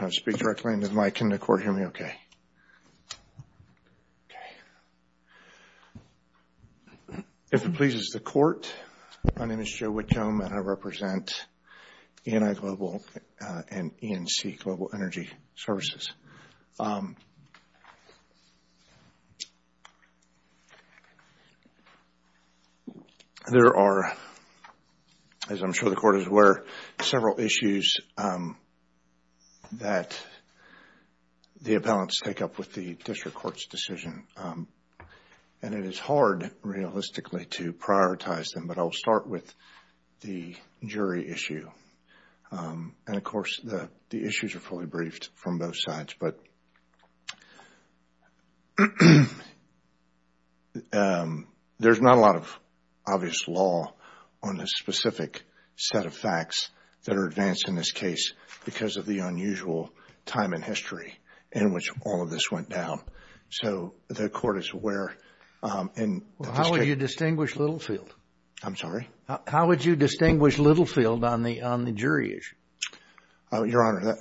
If it pleases the Court, my name is Joe Whitcomb and I represent E&I Global and E&C Global Energy Services. There are, as I'm sure the Court is aware, several issues that the appellants take up with the District Court's decision and it is hard, realistically, to prioritize them, but I'll start with the jury issue. And, of course, the issues are fully briefed from both sides, but there's not a lot of obvious law on the specific set of facts that are advanced in this case because of the unusual time in history in which all of this went down. So, the Court is aware. Well, how would you distinguish Littlefield? I'm sorry? How would you distinguish Littlefield on the jury issue? Your Honor,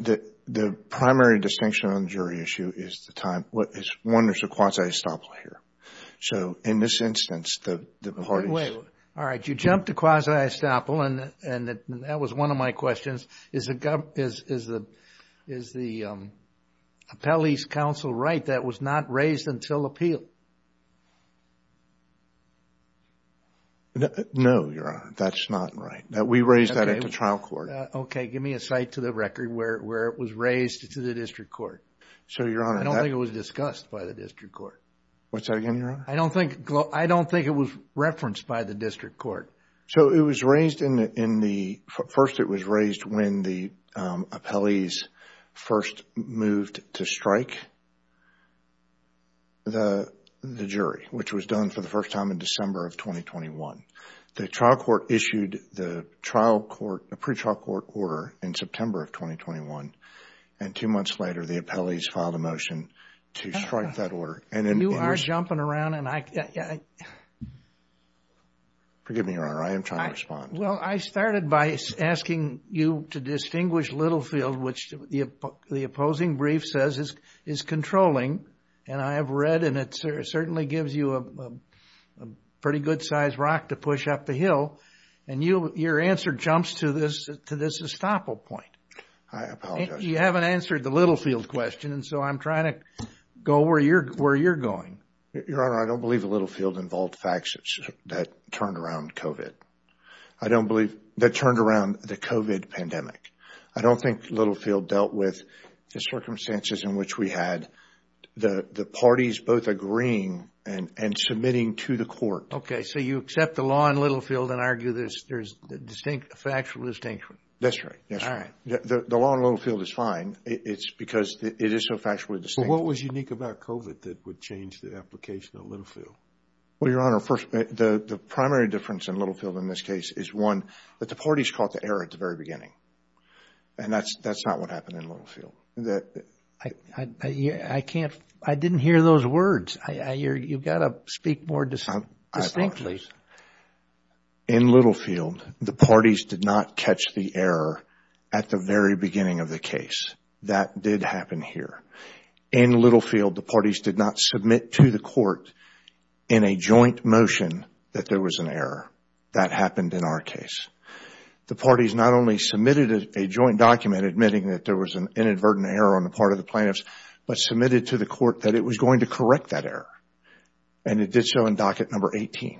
the primary distinction on the jury issue is the time. One, there's a quasi-estoppel here. So, in this instance, the parties... All right. You jumped to quasi-estoppel and that was one of my questions. Is the appellee's counsel right that it was not raised until appeal? No, Your Honor. That's not right. We raised that at the trial court. Okay. Give me a site to the record where it was raised to the District Court. So, Your Honor... I don't think it was discussed by the District Court. What's that again, Your Honor? I don't think it was referenced by the District Court. So, it was raised in the... First, it was raised when the appellees first moved to strike the jury, which was done for the first time in December of 2021. The trial court issued the trial court, the pre-trial court order in September of 2021. And two months later, the appellees filed a motion to strike that order. You are jumping around and I... Forgive me, Your Honor. I am trying to respond. Well, I started by asking you to distinguish Littlefield, which the opposing brief says is controlling. And I have read and it certainly gives you a pretty good-sized rock to push up the hill. And your answer jumps to this estoppel point. I apologize. You haven't answered the Littlefield question. And so, I'm trying to go where you're going. Your Honor, I don't believe Littlefield involved facts that turned around COVID. I don't believe... That turned around the COVID pandemic. I don't think Littlefield dealt with the circumstances in which we had the parties both agreeing and submitting to the court. Okay. So, you accept the law in Littlefield and argue there's distinct factual distinction. That's right. All right. The law in Littlefield is fine. It's because it is so factually distinct. But what was unique about COVID that would change the application of Littlefield? Well, Your Honor, the primary difference in Littlefield in this case is one, that the parties caught the error at the very beginning. And that's not what happened in Littlefield. I can't... I didn't hear those words. You've got to speak more distinctly. In Littlefield, the parties did not catch the error at the very beginning of the case. That did happen here. In Littlefield, the parties did not submit to the court in a joint motion that there was an error. That happened in our case. The parties not only submitted a joint document admitting that there was an inadvertent error on the part of the plaintiffs, but submitted to the court that it was going to correct that error. And it did so in docket number 18,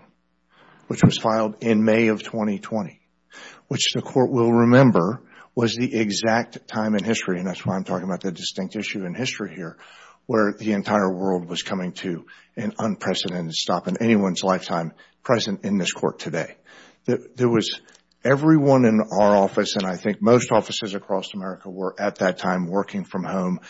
which was filed in May of 2020, which the court will remember was the exact time in history, and that's why I'm talking about the distinct issue in history here, where the entire world was coming to an unprecedented stop in anyone's lifetime present in this court today. There was... Everyone in our office, and I think most offices across America, were at that time working from home.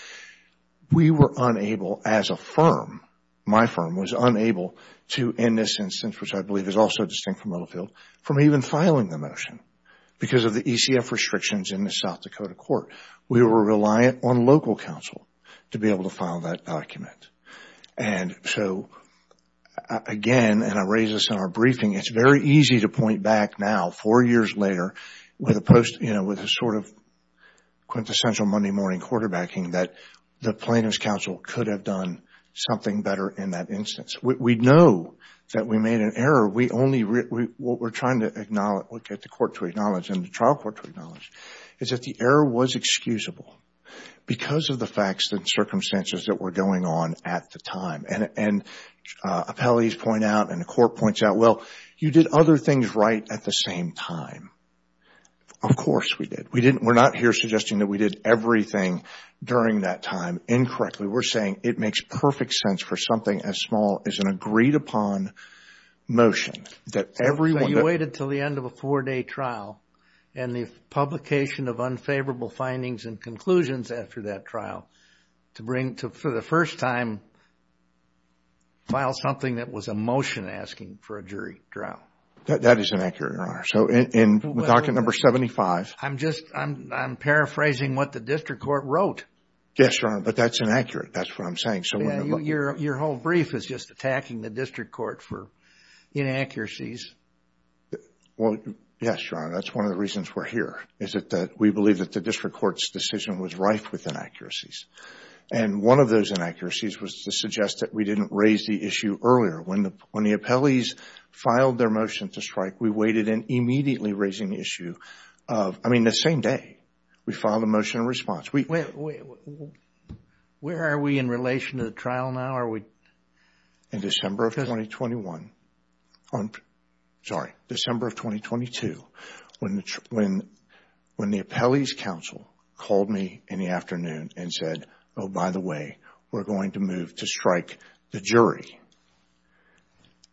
We were unable, as a firm, my firm was unable to, in this instance, which I believe is also distinct from Littlefield, from even filing the motion because of the ECF restrictions in the South Dakota court. We were reliant on local counsel to be able to file that document. And so, again, and I raise this in our briefing, it's very easy to point back now, four years later, with a sort of quintessential Monday morning quarterbacking that the plaintiff's counsel could have done something better in that instance. We know that we made an error. We only... What we're trying to acknowledge, what we're trying to get the court to acknowledge and the trial court to acknowledge is that the error was excusable because of the facts and circumstances that were going on at the time. And appellees point out, and the court points out, well, you did other things right at the same time. Of course we did. We're not here suggesting that we did everything during that time incorrectly. We're saying it makes perfect sense for something as small as an agreed-upon motion that everyone... So you waited until the end of a four-day trial and the publication of unfavorable findings and conclusions after that trial to, for the first time, file something that was a motion asking for a jury trial. That is inaccurate, Your Honor. So in docket number 75... I'm paraphrasing what the district court wrote. Yes, Your Honor, but that's inaccurate. That's what I'm saying. Your whole brief is just attacking the district court for inaccuracies. Well, yes, Your Honor, that's one of the reasons we're here is that we believe that the district court's decision was rife with inaccuracies. And one of those inaccuracies was to suggest that we didn't raise the issue earlier. When the appellees filed their motion to strike, we waited in immediately raising the issue of... I mean, the same day we filed a motion in response. Where are we in relation to the trial now? In December of 2021. Sorry, December of 2022. When the appellees' counsel called me in the afternoon and said, oh, by the way, we're going to move to strike the jury,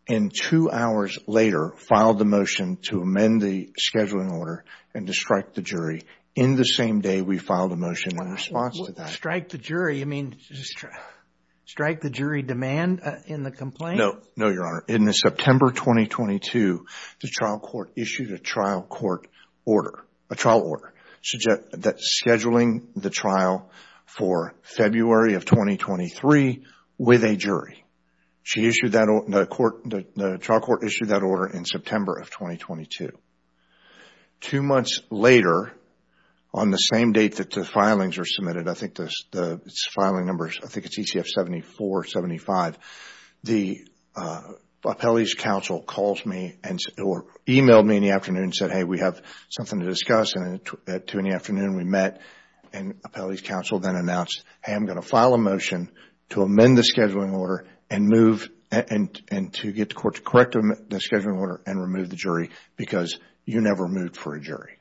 and two hours later filed the motion to amend the scheduling order and to strike the jury in the same day we filed the motion in response to that. Strike the jury? You mean strike the jury demand in the complaint? No, Your Honor. In September 2022, the trial court issued a trial court order, a trial order scheduling the trial for February of 2023 with a jury. The trial court issued that order in September of 2022. Two months later, on the same date that the filings were submitted, I think the filing numbers, I think it's ECF 74, 75, the appellees' counsel called me or emailed me in the afternoon and said, hey, we have something to discuss. Two in the afternoon we met and appellees' counsel then announced, hey, I'm going to file a motion to amend the scheduling order and to get the court to correct the scheduling order and remove the jury because you never moved for a jury.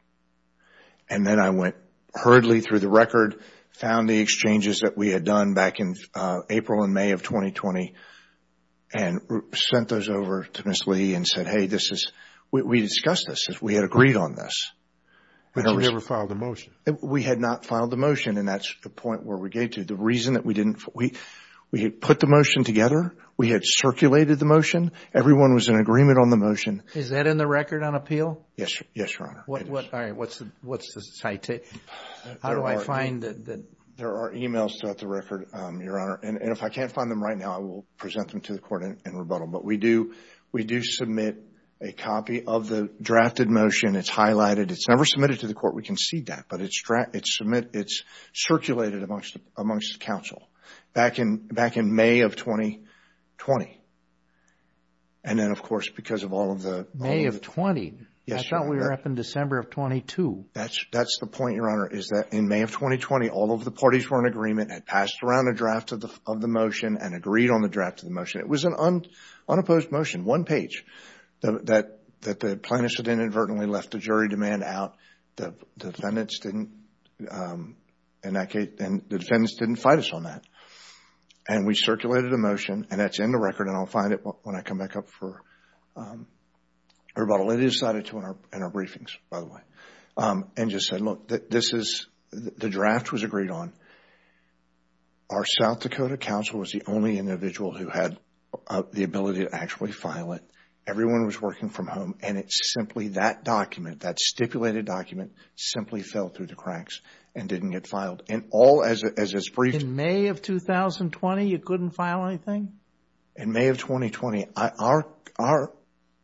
Then I went hurriedly through the record, found the exchanges that we had done back in April and May of 2020 and sent those over to Ms. Lee and said, hey, we discussed this. We had agreed on this. But you never filed the motion. We had not filed the motion and that's the point where we get to. The reason that we didn't, we had put the motion together. We had circulated the motion. Everyone was in agreement on the motion. Is that in the record on appeal? Yes, Your Honor. All right. What's the citation? How do I find it? There are e-mails throughout the record, Your Honor, and if I can't find them right now, I will present them to the court in rebuttal. But we do submit a copy of the drafted motion. It's highlighted. It's never submitted to the court. We concede that. But it's circulated amongst the counsel back in May of 2020. And then, of course, because of all of the... May of 20? Yes, Your Honor. I thought we were up in December of 22. That's the point, Your Honor, is that in May of 2020, all of the parties were in agreement and passed around a draft of the motion and agreed on the draft of the motion. It was an unopposed motion, one page, that the plaintiffs had inadvertently left the jury demand out. The defendants didn't, in that case, the defendants didn't fight us on that. And we circulated the motion, and that's in the record, and I'll find it when I come back up for rebuttal. It is cited in our briefings, by the way. And just said, look, this is... the draft was agreed on. Our South Dakota counsel was the only individual who had the ability to actually file it. Everyone was working from home. And it's simply that document, that stipulated document, simply fell through the cracks and didn't get filed. And all, as is briefed... In May of 2020, it couldn't file anything? In May of 2020, our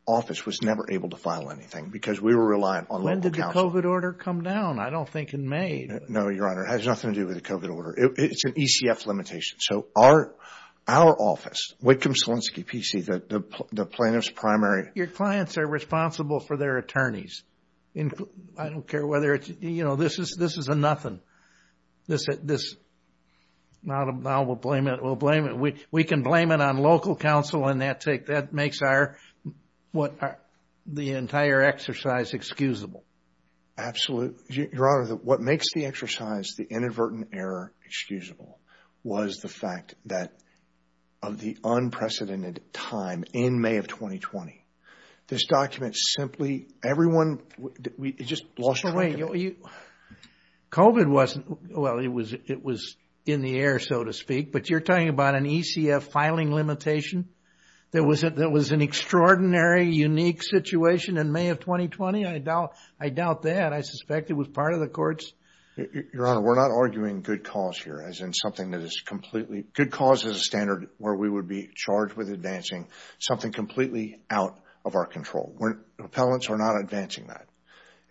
office was never able to file anything because we were reliant on local counsel. When did the COVID order come down? I don't think in May. No, Your Honor. It has nothing to do with the COVID order. It's an ECF limitation. So our office, Whitcomb-Solinsky PC, the plaintiff's primary... Your clients are responsible for their attorneys. I don't care whether it's... you know, this is a nothing. This... now we'll blame it. We'll blame it. We can blame it on local counsel and that makes our... the entire exercise excusable. Absolutely. Your Honor, what makes the exercise, the inadvertent error, excusable was the fact that of the unprecedented time in May of 2020, this document simply... everyone... It just lost... COVID wasn't... well, it was in the air, so to speak. But you're talking about an ECF filing limitation that was an extraordinary, unique situation in May of 2020? I doubt that. I suspect it was part of the court's... Your Honor, we're not arguing good cause here, as in something that is completely... Good cause is a standard where we would be charged with advancing something completely out of our control. We're... appellants are not advancing that.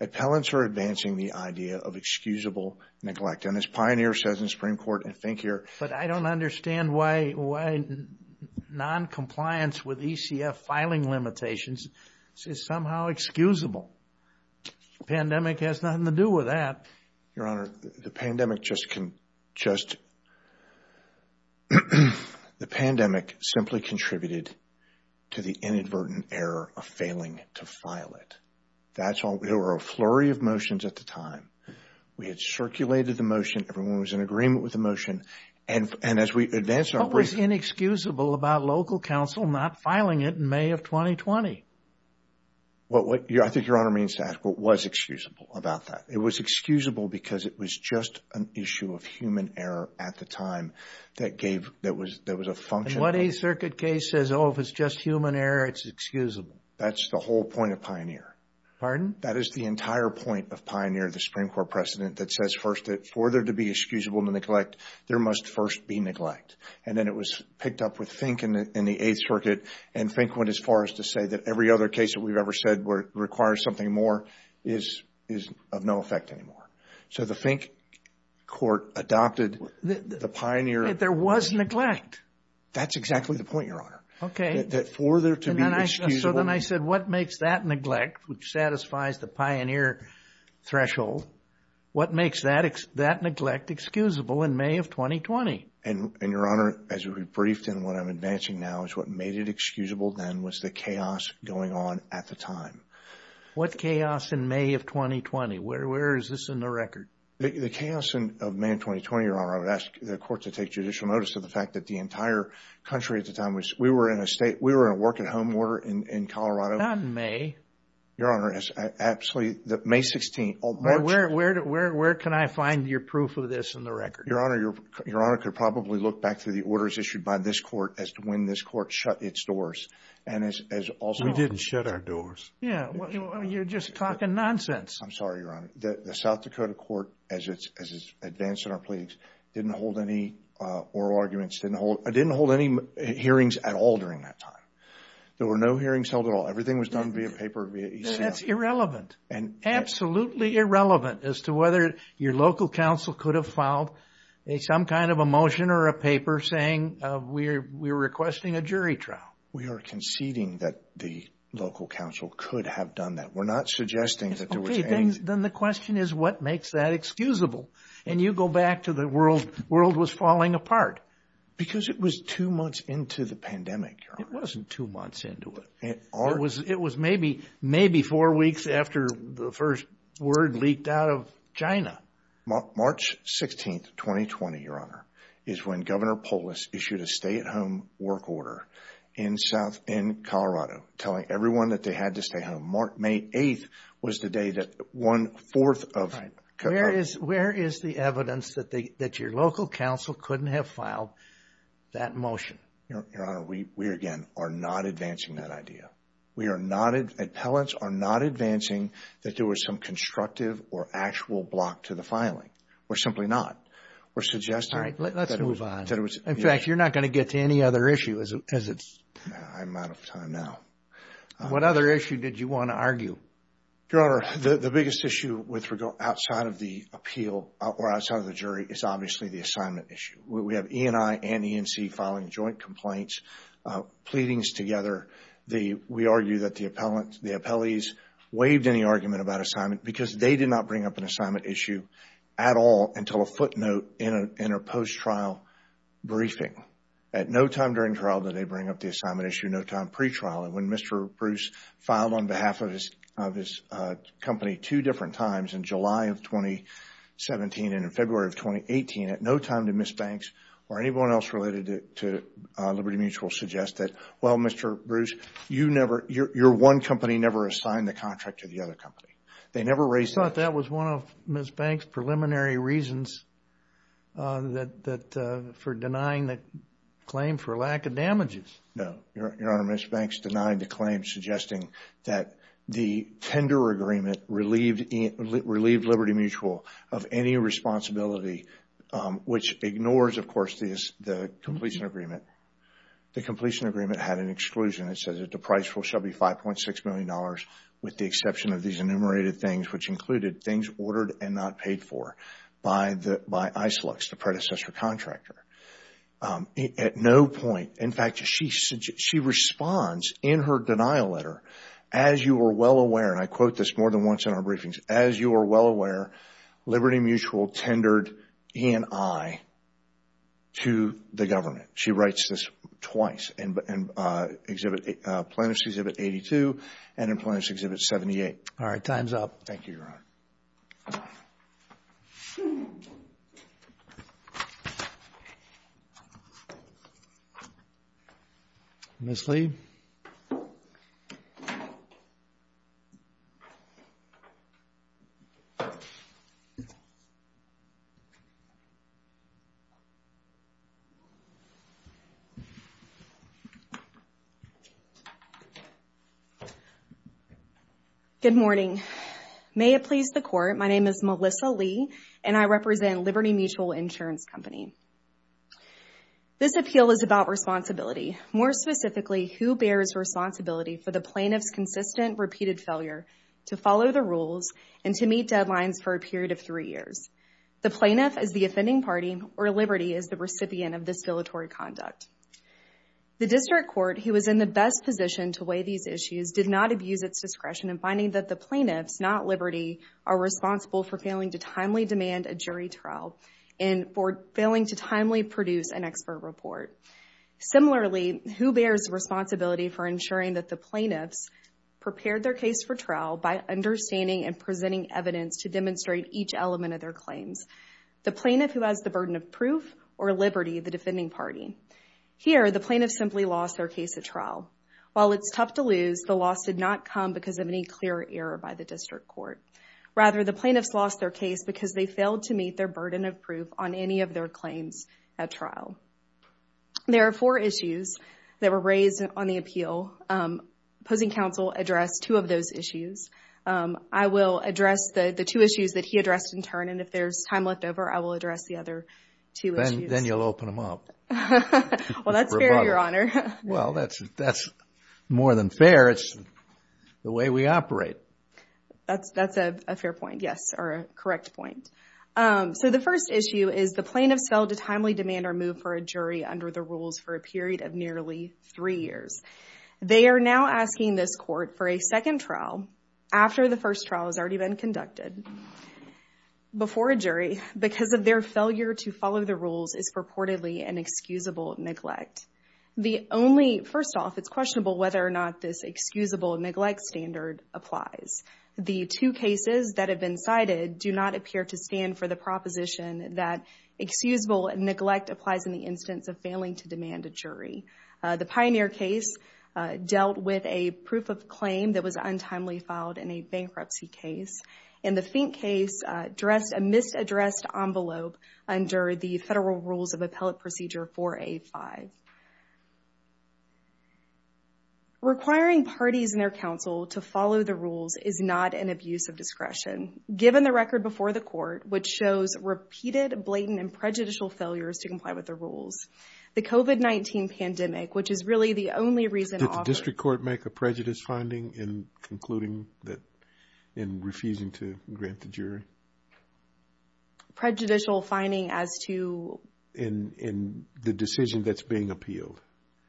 Appellants are advancing the idea of excusable neglect. And as Pioneer says in the Supreme Court, and think here... But I don't understand why noncompliance with ECF filing limitations is somehow excusable. The pandemic has nothing to do with that. Your Honor, the pandemic just... The pandemic simply contributed to the inadvertent error of failing to file it. That's all... There were a flurry of motions at the time. We had circulated the motion. Everyone was in agreement with the motion. And as we advanced our brief... What was inexcusable about local counsel not filing it in May of 2020? I think Your Honor means to ask what was excusable about that. It was excusable because it was just an issue of human error at the time that gave... that was a function... And what a circuit case says, oh, if it's just human error, it's excusable. That's the whole point of Pioneer. Pardon? That is the entire point of Pioneer, the Supreme Court precedent, that says first that for there to be excusable neglect, there must first be neglect. And then it was picked up with Fink in the Eighth Circuit, and Fink went as far as to say that every other case that we've ever said requires something more is of no effect anymore. So the Fink court adopted the Pioneer... There was neglect. That's exactly the point, Your Honor. Okay. That for there to be excusable... What makes that neglect excusable in May of 2020? And, Your Honor, as we've briefed in what I'm advancing now, is what made it excusable then was the chaos going on at the time. What chaos in May of 2020? Where is this in the record? The chaos of May of 2020, Your Honor, I would ask the court to take judicial notice of the fact that the entire country at the time was... We were in a state... We were in a work-at-home order in Colorado. Not in May. Your Honor, absolutely. May 16, March... Where can I find your proof of this in the record? Your Honor, Your Honor could probably look back to the orders issued by this court as to when this court shut its doors, and as also... We didn't shut our doors. Yeah. You're just talking nonsense. I'm sorry, Your Honor. The South Dakota court, as it's advanced in our pleas, didn't hold any oral arguments, didn't hold any hearings at all during that time. There were no hearings held at all. Everything was done via paper, via e-mail. That's irrelevant, absolutely irrelevant, as to whether your local council could have filed some kind of a motion or a paper saying we're requesting a jury trial. We are conceding that the local council could have done that. We're not suggesting that there was any... Okay, then the question is what makes that excusable? And you go back to the world was falling apart. Because it was two months into the pandemic, Your Honor. It wasn't two months into it. It was maybe four weeks after the first word leaked out of China. March 16th, 2020, Your Honor, is when Governor Polis issued a stay-at-home work order in Colorado telling everyone that they had to stay home. May 8th was the day that one-fourth of... Where is the evidence that your local council couldn't have filed that motion? Your Honor, we, again, are not advancing that idea. We are not... Appellants are not advancing that there was some constructive or actual block to the filing. We're simply not. We're suggesting... All right, let's move on. In fact, you're not going to get to any other issue as it's... I'm out of time now. What other issue did you want to argue? Your Honor, the biggest issue outside of the appeal or outside of the jury is obviously the assignment issue. We have E&I and E&C filing joint complaints, pleadings together. We argue that the appellees waived any argument about assignment because they did not bring up an assignment issue at all until a footnote in a post-trial briefing. At no time during trial did they bring up the assignment issue, no time pre-trial. When Mr. Bruce filed on behalf of his company two different times, in July of 2017 and in February of 2018, at no time did Ms. Banks or anyone else related to Liberty Mutual suggest that, well, Mr. Bruce, you never... your one company never assigned the contract to the other company. They never raised... I thought that was one of Ms. Banks' preliminary reasons for denying the claim for lack of damages. No. Your Honor, Ms. Banks denied the claim suggesting that the tender agreement relieved Liberty Mutual of any responsibility, which ignores, of course, the completion agreement. The completion agreement had an exclusion. It says that the price will be $5.6 million with the exception of these enumerated things, which included things ordered and not paid for by ISLUX, the predecessor contractor. At no point... In fact, she responds in her denial letter, as you are well aware, and I quote this more than once in our briefings, as you are well aware, Liberty Mutual tendered E&I to the government. She writes this twice, in Plaintiffs' Exhibit 82 and in Plaintiffs' Exhibit 78. All right. Time's up. Thank you, Your Honor. Ms. Lee. Good morning. May it please the Court, my name is Melissa Lee, and I represent Liberty Mutual Insurance Company. This appeal is about responsibility, more specifically who bears responsibility for the plaintiff's consistent, repeated failure to follow the rules and to meet deadlines for a period of three years. The plaintiff is the offending party, or Liberty is the recipient of this villatory conduct. The district court, who was in the best position to weigh these issues, did not abuse its discretion in finding that the plaintiffs, not Liberty, are responsible for failing to timely demand a jury trial and for failing to timely produce an expert report. Similarly, who bears responsibility for ensuring that the plaintiffs prepared their case for trial by understanding and presenting evidence to demonstrate each element of their claims? The plaintiff who has the burden of proof, or Liberty, the defending party? Here, the plaintiffs simply lost their case at trial. While it's tough to lose, the loss did not come because of any clear error by the district court. Rather, the plaintiffs lost their case because they failed to meet their burden of proof on any of their claims at trial. There are four issues that were raised on the appeal. Opposing counsel addressed two of those issues. I will address the two issues that he addressed in turn, and if there's time left over, I will address the other two issues. Then you'll open them up. Well, that's fair, Your Honor. Well, that's more than fair. It's the way we operate. That's a fair point, yes, or a correct point. So the first issue is the plaintiff failed to timely demand or move for a jury under the rules for a period of nearly three years. They are now asking this court for a second trial after the first trial has already been conducted before a jury because of their failure to follow the rules is purportedly an excusable neglect. The only, first off, it's questionable whether or not this excusable neglect standard applies. The two cases that have been cited do not appear to stand for the proposition that excusable neglect applies in the instance of failing to demand a jury. The Pioneer case dealt with a proof of claim that was untimely filed in a bankruptcy case, and the Fink case addressed a misaddressed envelope under the federal rules of appellate procedure 4A-5. Requiring parties in their counsel to follow the rules is not an abuse of discretion. Given the record before the court, which shows repeated blatant and prejudicial failures to comply with the rules, the COVID-19 pandemic, which is really the only reason often Did the district court make a prejudice finding in concluding that, in refusing to grant the jury? Prejudicial finding as to In the decision that's being appealed.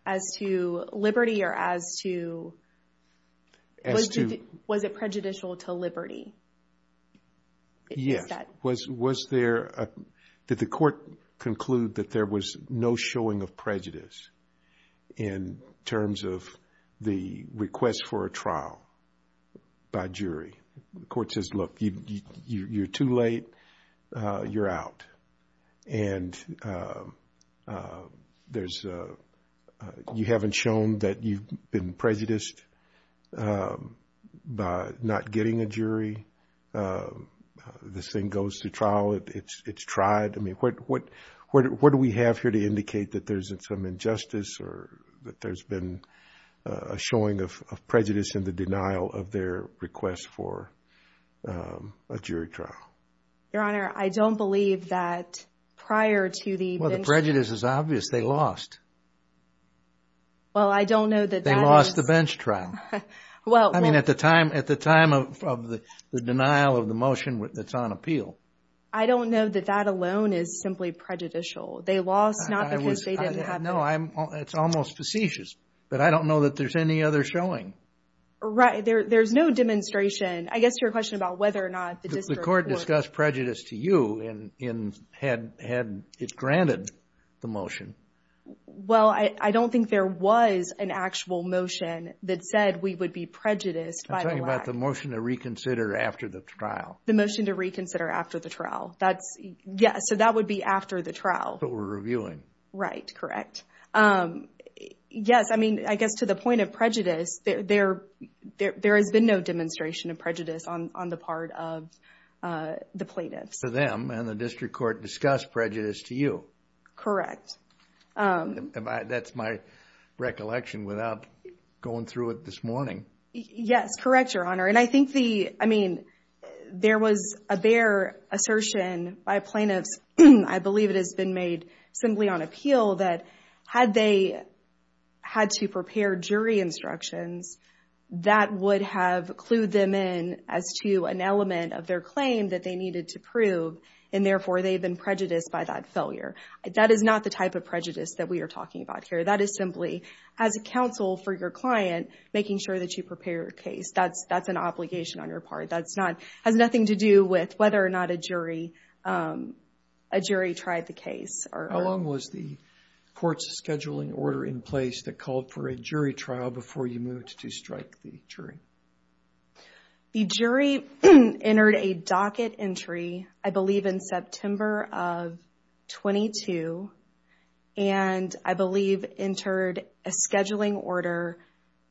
As to liberty or as to As to Was it prejudicial to liberty? Yes. Was there, did the court conclude that there was no showing of prejudice in terms of the request for a trial by jury? The court says, look, you're too late. You're out. And there's, you haven't shown that you've been prejudiced by not getting a jury. This thing goes to trial. It's tried. I mean, what do we have here to indicate that there's some injustice or that there's been a showing of prejudice in the denial of their request for a jury trial? Your Honor, I don't believe that prior to the Well, the prejudice is obvious. They lost. Well, I don't know that They lost the bench trial. I mean, at the time of the denial of the motion that's on appeal. I don't know that that alone is simply prejudicial. They lost not because they didn't have No, it's almost facetious. But I don't know that there's any other showing. Right. There's no demonstration. I guess your question about whether or not the district The court discussed prejudice to you had it granted the motion. Well, I don't think there was an actual motion that said we would be prejudiced. I'm talking about the motion to reconsider after the trial. The motion to reconsider after the trial. That's yes. So that would be after the trial. But we're reviewing. Right. Correct. Yes. I mean, I guess to the point of prejudice there, there, there, there has been no demonstration of prejudice on the part of the plaintiffs. So them and the district court discussed prejudice to you. Correct. That's my recollection without going through it this morning. Yes. Correct, Your Honor. And I think the I mean, there was a bare assertion by plaintiffs. I believe it has been made simply on appeal that had they had to prepare jury instructions that would have clued them in as to an element of their claim that they needed to prove. And therefore, they've been prejudiced by that failure. That is not the type of prejudice that we are talking about here. That is simply as a counsel for your client, making sure that you prepare your case. That's an obligation on your part. That has nothing to do with whether or not a jury tried the case. How long was the court's scheduling order in place that called for a jury trial before you moved to strike the jury? The jury entered a docket entry, I believe in September of 22. And I believe entered a scheduling order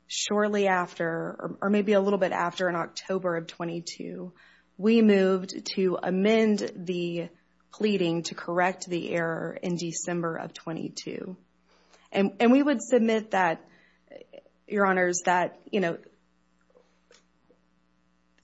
shortly after or maybe a little bit after in October of 22. We moved to amend the pleading to correct the error in December of 22. And we would submit that, Your Honors, that, you know,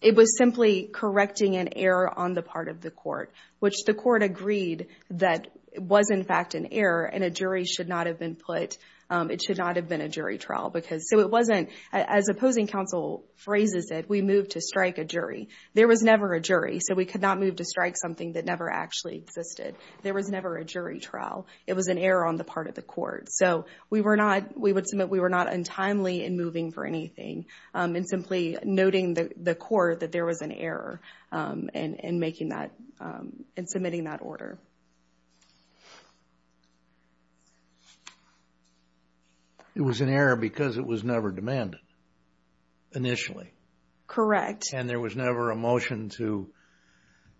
it was simply correcting an error on the part of the court, which the court agreed that it was in fact an error and a jury should not have been put. It should not have been a jury trial because so it wasn't as opposing counsel phrases that we moved to strike a jury. There was never a jury. So we could not move to strike something that never actually existed. There was never a jury trial. It was an error on the part of the court. So we were not, we would submit we were not untimely in moving for anything and simply noting the court that there was an error in making that, in submitting that order. It was an error because it was never demanded initially. Correct. And there was never a motion to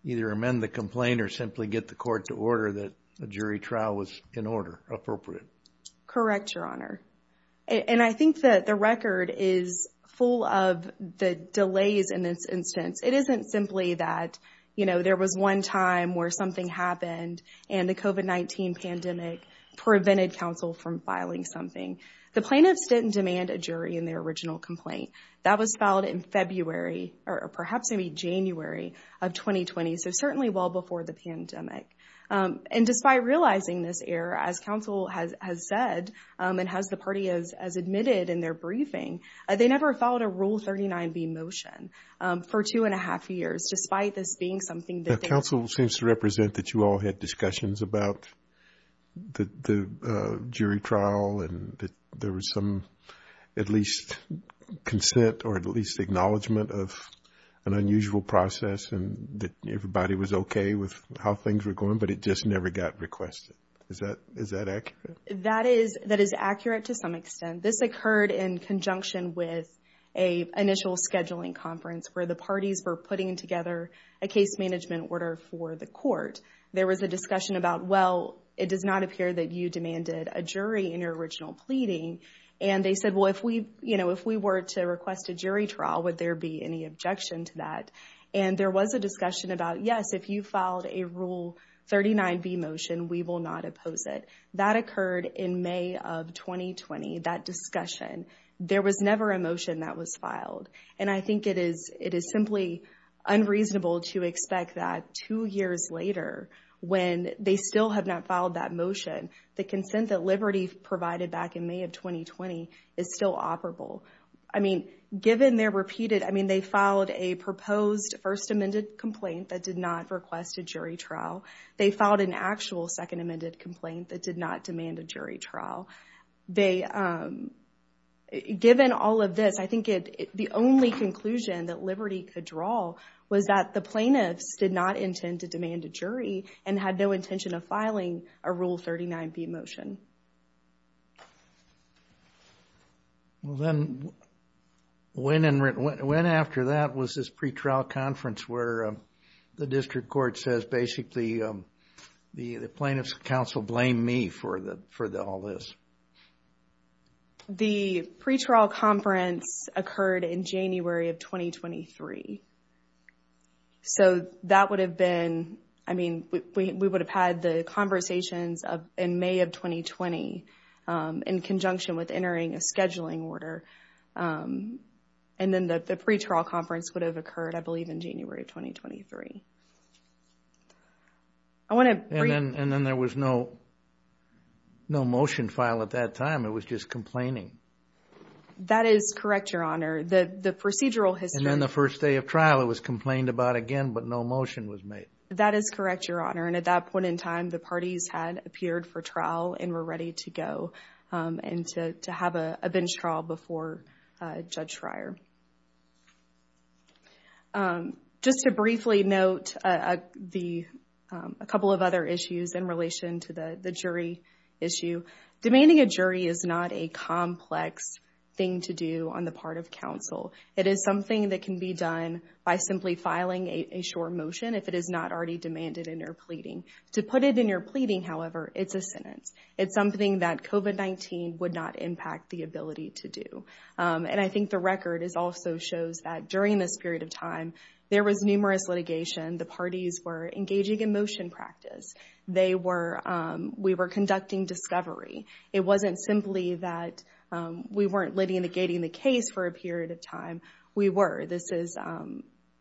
either amend the complaint or simply get the court to order that a jury trial was in order, appropriate. Correct, Your Honor. And I think that the record is full of the delays in this instance. It isn't simply that, you know, there was one time where something happened and the COVID-19 pandemic prevented counsel from filing something. The plaintiffs didn't demand a jury in their original complaint. That was filed in February or perhaps maybe January of 2020. So certainly well before the pandemic. And despite realizing this error, as counsel has said and has the party as admitted in their briefing, they never filed a Rule 39B motion for two and a half years, despite this being something that counsel seems to represent, that you all had discussions about the jury trial and that there was some at least consent or at least acknowledgement of an unusual process and that everybody was okay with how things were going, but it just never got requested. Is that accurate? That is accurate to some extent. This occurred in conjunction with an initial scheduling conference where the parties were putting together a case management order for the court. There was a discussion about, well, it does not appear that you demanded a jury in your original pleading. And they said, well, if we, you know, if we were to request a jury trial, would there be any objection to that? And there was a discussion about, yes, if you filed a Rule 39B motion, we will not oppose it. That occurred in May of 2020, that discussion. There was never a motion that was filed. And I think it is simply unreasonable to expect that two years later, when they still have not filed that motion, the consent that Liberty provided back in May of 2020 is still operable. I mean, given their repeated, I mean, they filed a proposed First Amendment complaint that did not request a jury trial. They filed an actual Second Amendment complaint that did not demand a jury trial. Given all of this, I think the only conclusion that Liberty could draw was that the plaintiffs did not intend to demand a jury and had no intention of filing a Rule 39B motion. Well, then, when after that was this pretrial conference where the district court says basically the plaintiffs counsel blamed me for all this? The pretrial conference occurred in January of 2023. So that would have been, I mean, we would have had the conversations in May of 2020 in conjunction with entering a scheduling order. And then the pretrial conference would have occurred, I believe, in January of 2023. And then there was no motion file at that time. It was just complaining. That is correct, Your Honor. And then the first day of trial, it was complained about again, but no motion was made. That is correct, Your Honor. And at that point in time, the parties had appeared for trial and were ready to go and to have a bench trial before Judge Schreier. Just to briefly note a couple of other issues in relation to the jury issue. Demanding a jury is not a complex thing to do on the part of counsel. It is something that can be done by simply filing a short motion if it is not already demanded in your pleading. To put it in your pleading, however, it's a sentence. It's something that COVID-19 would not impact the ability to do. And I think the record also shows that during this period of time, there was numerous litigation. The parties were engaging in motion practice. They were, we were conducting discovery. It wasn't simply that we weren't litigating the case for a period of time. We were. This is,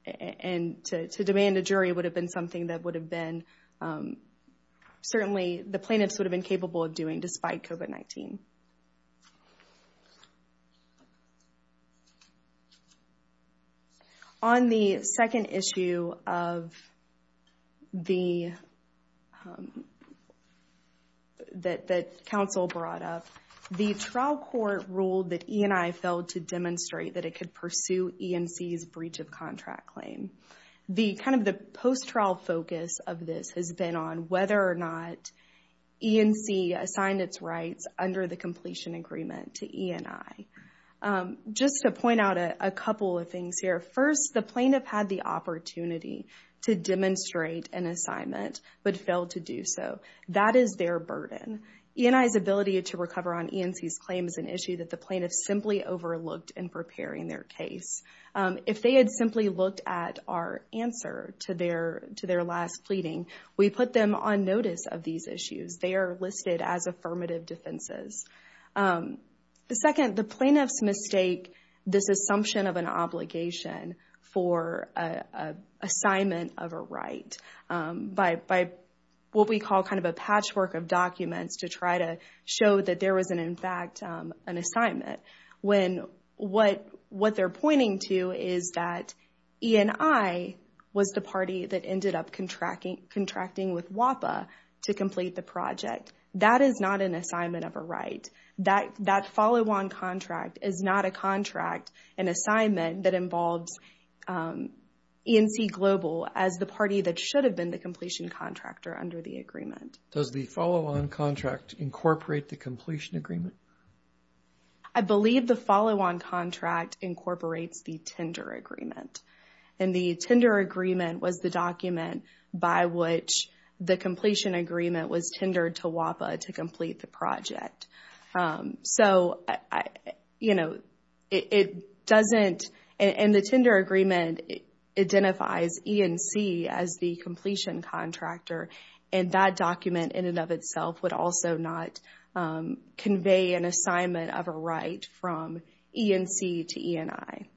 and to demand a jury would have been something that would have been, certainly the plaintiffs would have been capable of doing despite COVID-19. On the second issue of the, that, that counsel brought up, the trial court ruled that E&I failed to demonstrate that it could pursue E&C's breach of contract claim. The kind of the post-trial focus of this has been on whether or not E&C assigned its rights under the completion agreement to E&I. Just to point out a couple of things here. First, the plaintiff had the opportunity to demonstrate an assignment but failed to do so. That is their burden. E&I's ability to recover on E&C's claim is an issue that the plaintiff simply overlooked in preparing their case. If they had simply looked at our answer to their, to their last pleading, we put them on notice of these issues. They are listed as affirmative defenses. The second, the plaintiffs mistake this assumption of an obligation for an assignment of a right by, by what we call kind of a patchwork of documents to try to show that there was an, in fact, an assignment. When what, what they're pointing to is that E&I was the party that ended up contracting, contracting with WAPA to complete the project, that is not an assignment of a right. That, that follow-on contract is not a contract, an assignment that involves E&C Global as the party that should have been the completion contractor under the agreement. Does the follow-on contract incorporate the completion agreement? I believe the follow-on contract incorporates the tender agreement. And the tender agreement was the document by which the completion agreement was tendered to WAPA to complete the project. So, you know, it doesn't, and the tender agreement identifies E&C as the completion contractor. And that document in and of itself would also not convey an assignment of a right from E&C to E&I.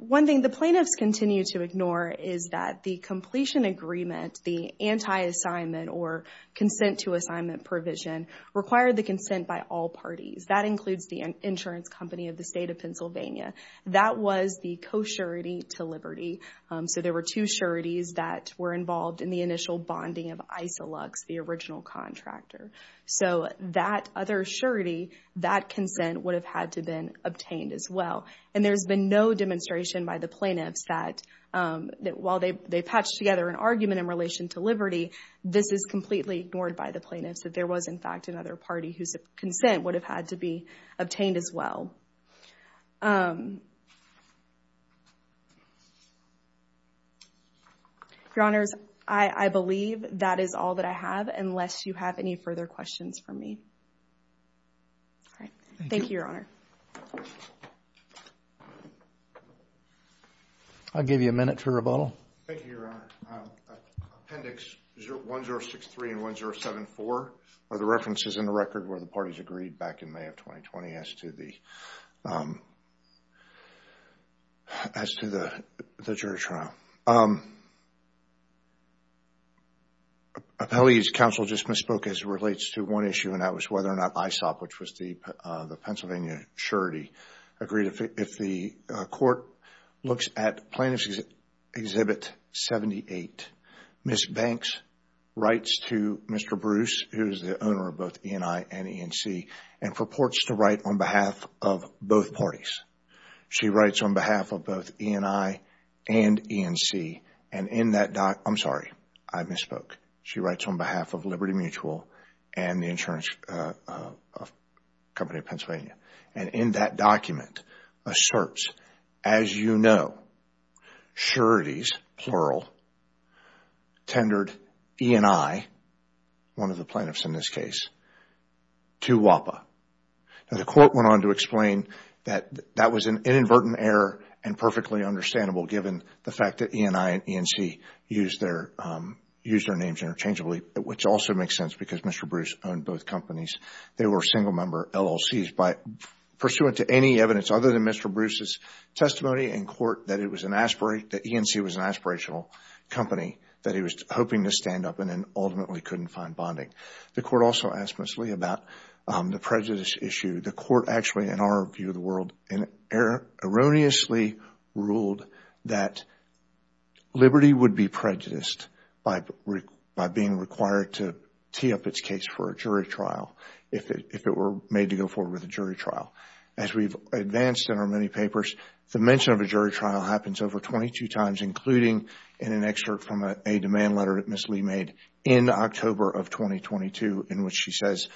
One thing the plaintiffs continue to ignore is that the completion agreement, the anti-assignment or consent to assignment provision required the consent by all parties. That includes the insurance company of the state of Pennsylvania. That was the co-surety to Liberty. So there were two sureties that were involved in the initial bonding of Isilux, the original contractor. So that other surety, that consent would have had to been obtained as well. And there's been no demonstration by the plaintiffs that while they patched together an argument in relation to Liberty, this is completely ignored by the plaintiffs that there was in fact another party whose consent would have had to be obtained as well. Your Honors, I believe that is all that I have unless you have any further questions for me. Thank you, Your Honor. I'll give you a minute for rebuttal. Thank you, Your Honor. Appendix 1063 and 1074 are the references in the record where the parties agreed back in May of 2020 as to the jury trial. Appellee's counsel just misspoke as it relates to one issue and that was whether or not ISOP, which was the Pennsylvania surety, agreed. If the court looks at Plaintiff's Exhibit 78, Ms. Banks writes to Mr. Bruce, who is the owner of both E&I and E&C, and purports to write on behalf of both parties. She writes on behalf of both E&I and E&C. I'm sorry, I misspoke. She writes on behalf of Liberty Mutual and the insurance company of Pennsylvania. In that document asserts, as you know, sureties, plural, tendered E&I, one of the plaintiffs in this case, to WAPA. The court went on to explain that that was an inadvertent error and perfectly understandable given the fact that E&I and E&C used their names interchangeably, which also makes sense because Mr. Bruce owned both companies. They were single-member LLCs. Pursuant to any evidence other than Mr. Bruce's testimony in court that E&C was an aspirational company that he was hoping to stand up and then ultimately couldn't find bonding. The court also asked Ms. Lee about the prejudice issue. The court actually, in our view of the world, erroneously ruled that Liberty would be prejudiced by being required to tee up its case for a jury trial if it were made to go forward with a jury trial. As we've advanced in our many papers, the mention of a jury trial happens over 22 times, including in an excerpt from a demand letter that Ms. Lee made in October of 2022 in which she says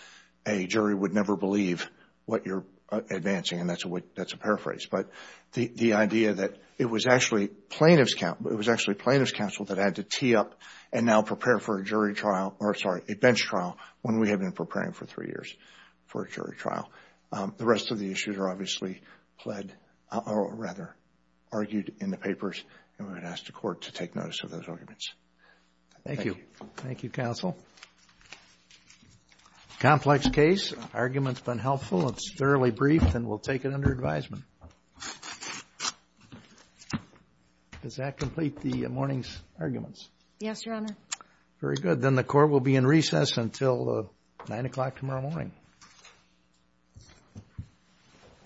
a jury would never believe what you're advancing. That's a paraphrase. But the idea that it was actually plaintiff's counsel that had to tee up and now prepare for a bench trial when we had been preparing for three years for a jury trial. The rest of the issues are obviously argued in the papers. And we would ask the court to take notice of those arguments. Thank you. Thank you, counsel. Complex case. This argument's been helpful. It's thoroughly brief, and we'll take it under advisement. Does that complete the morning's arguments? Yes, Your Honor. Very good. Then the court will be in recess until 9 o'clock tomorrow morning.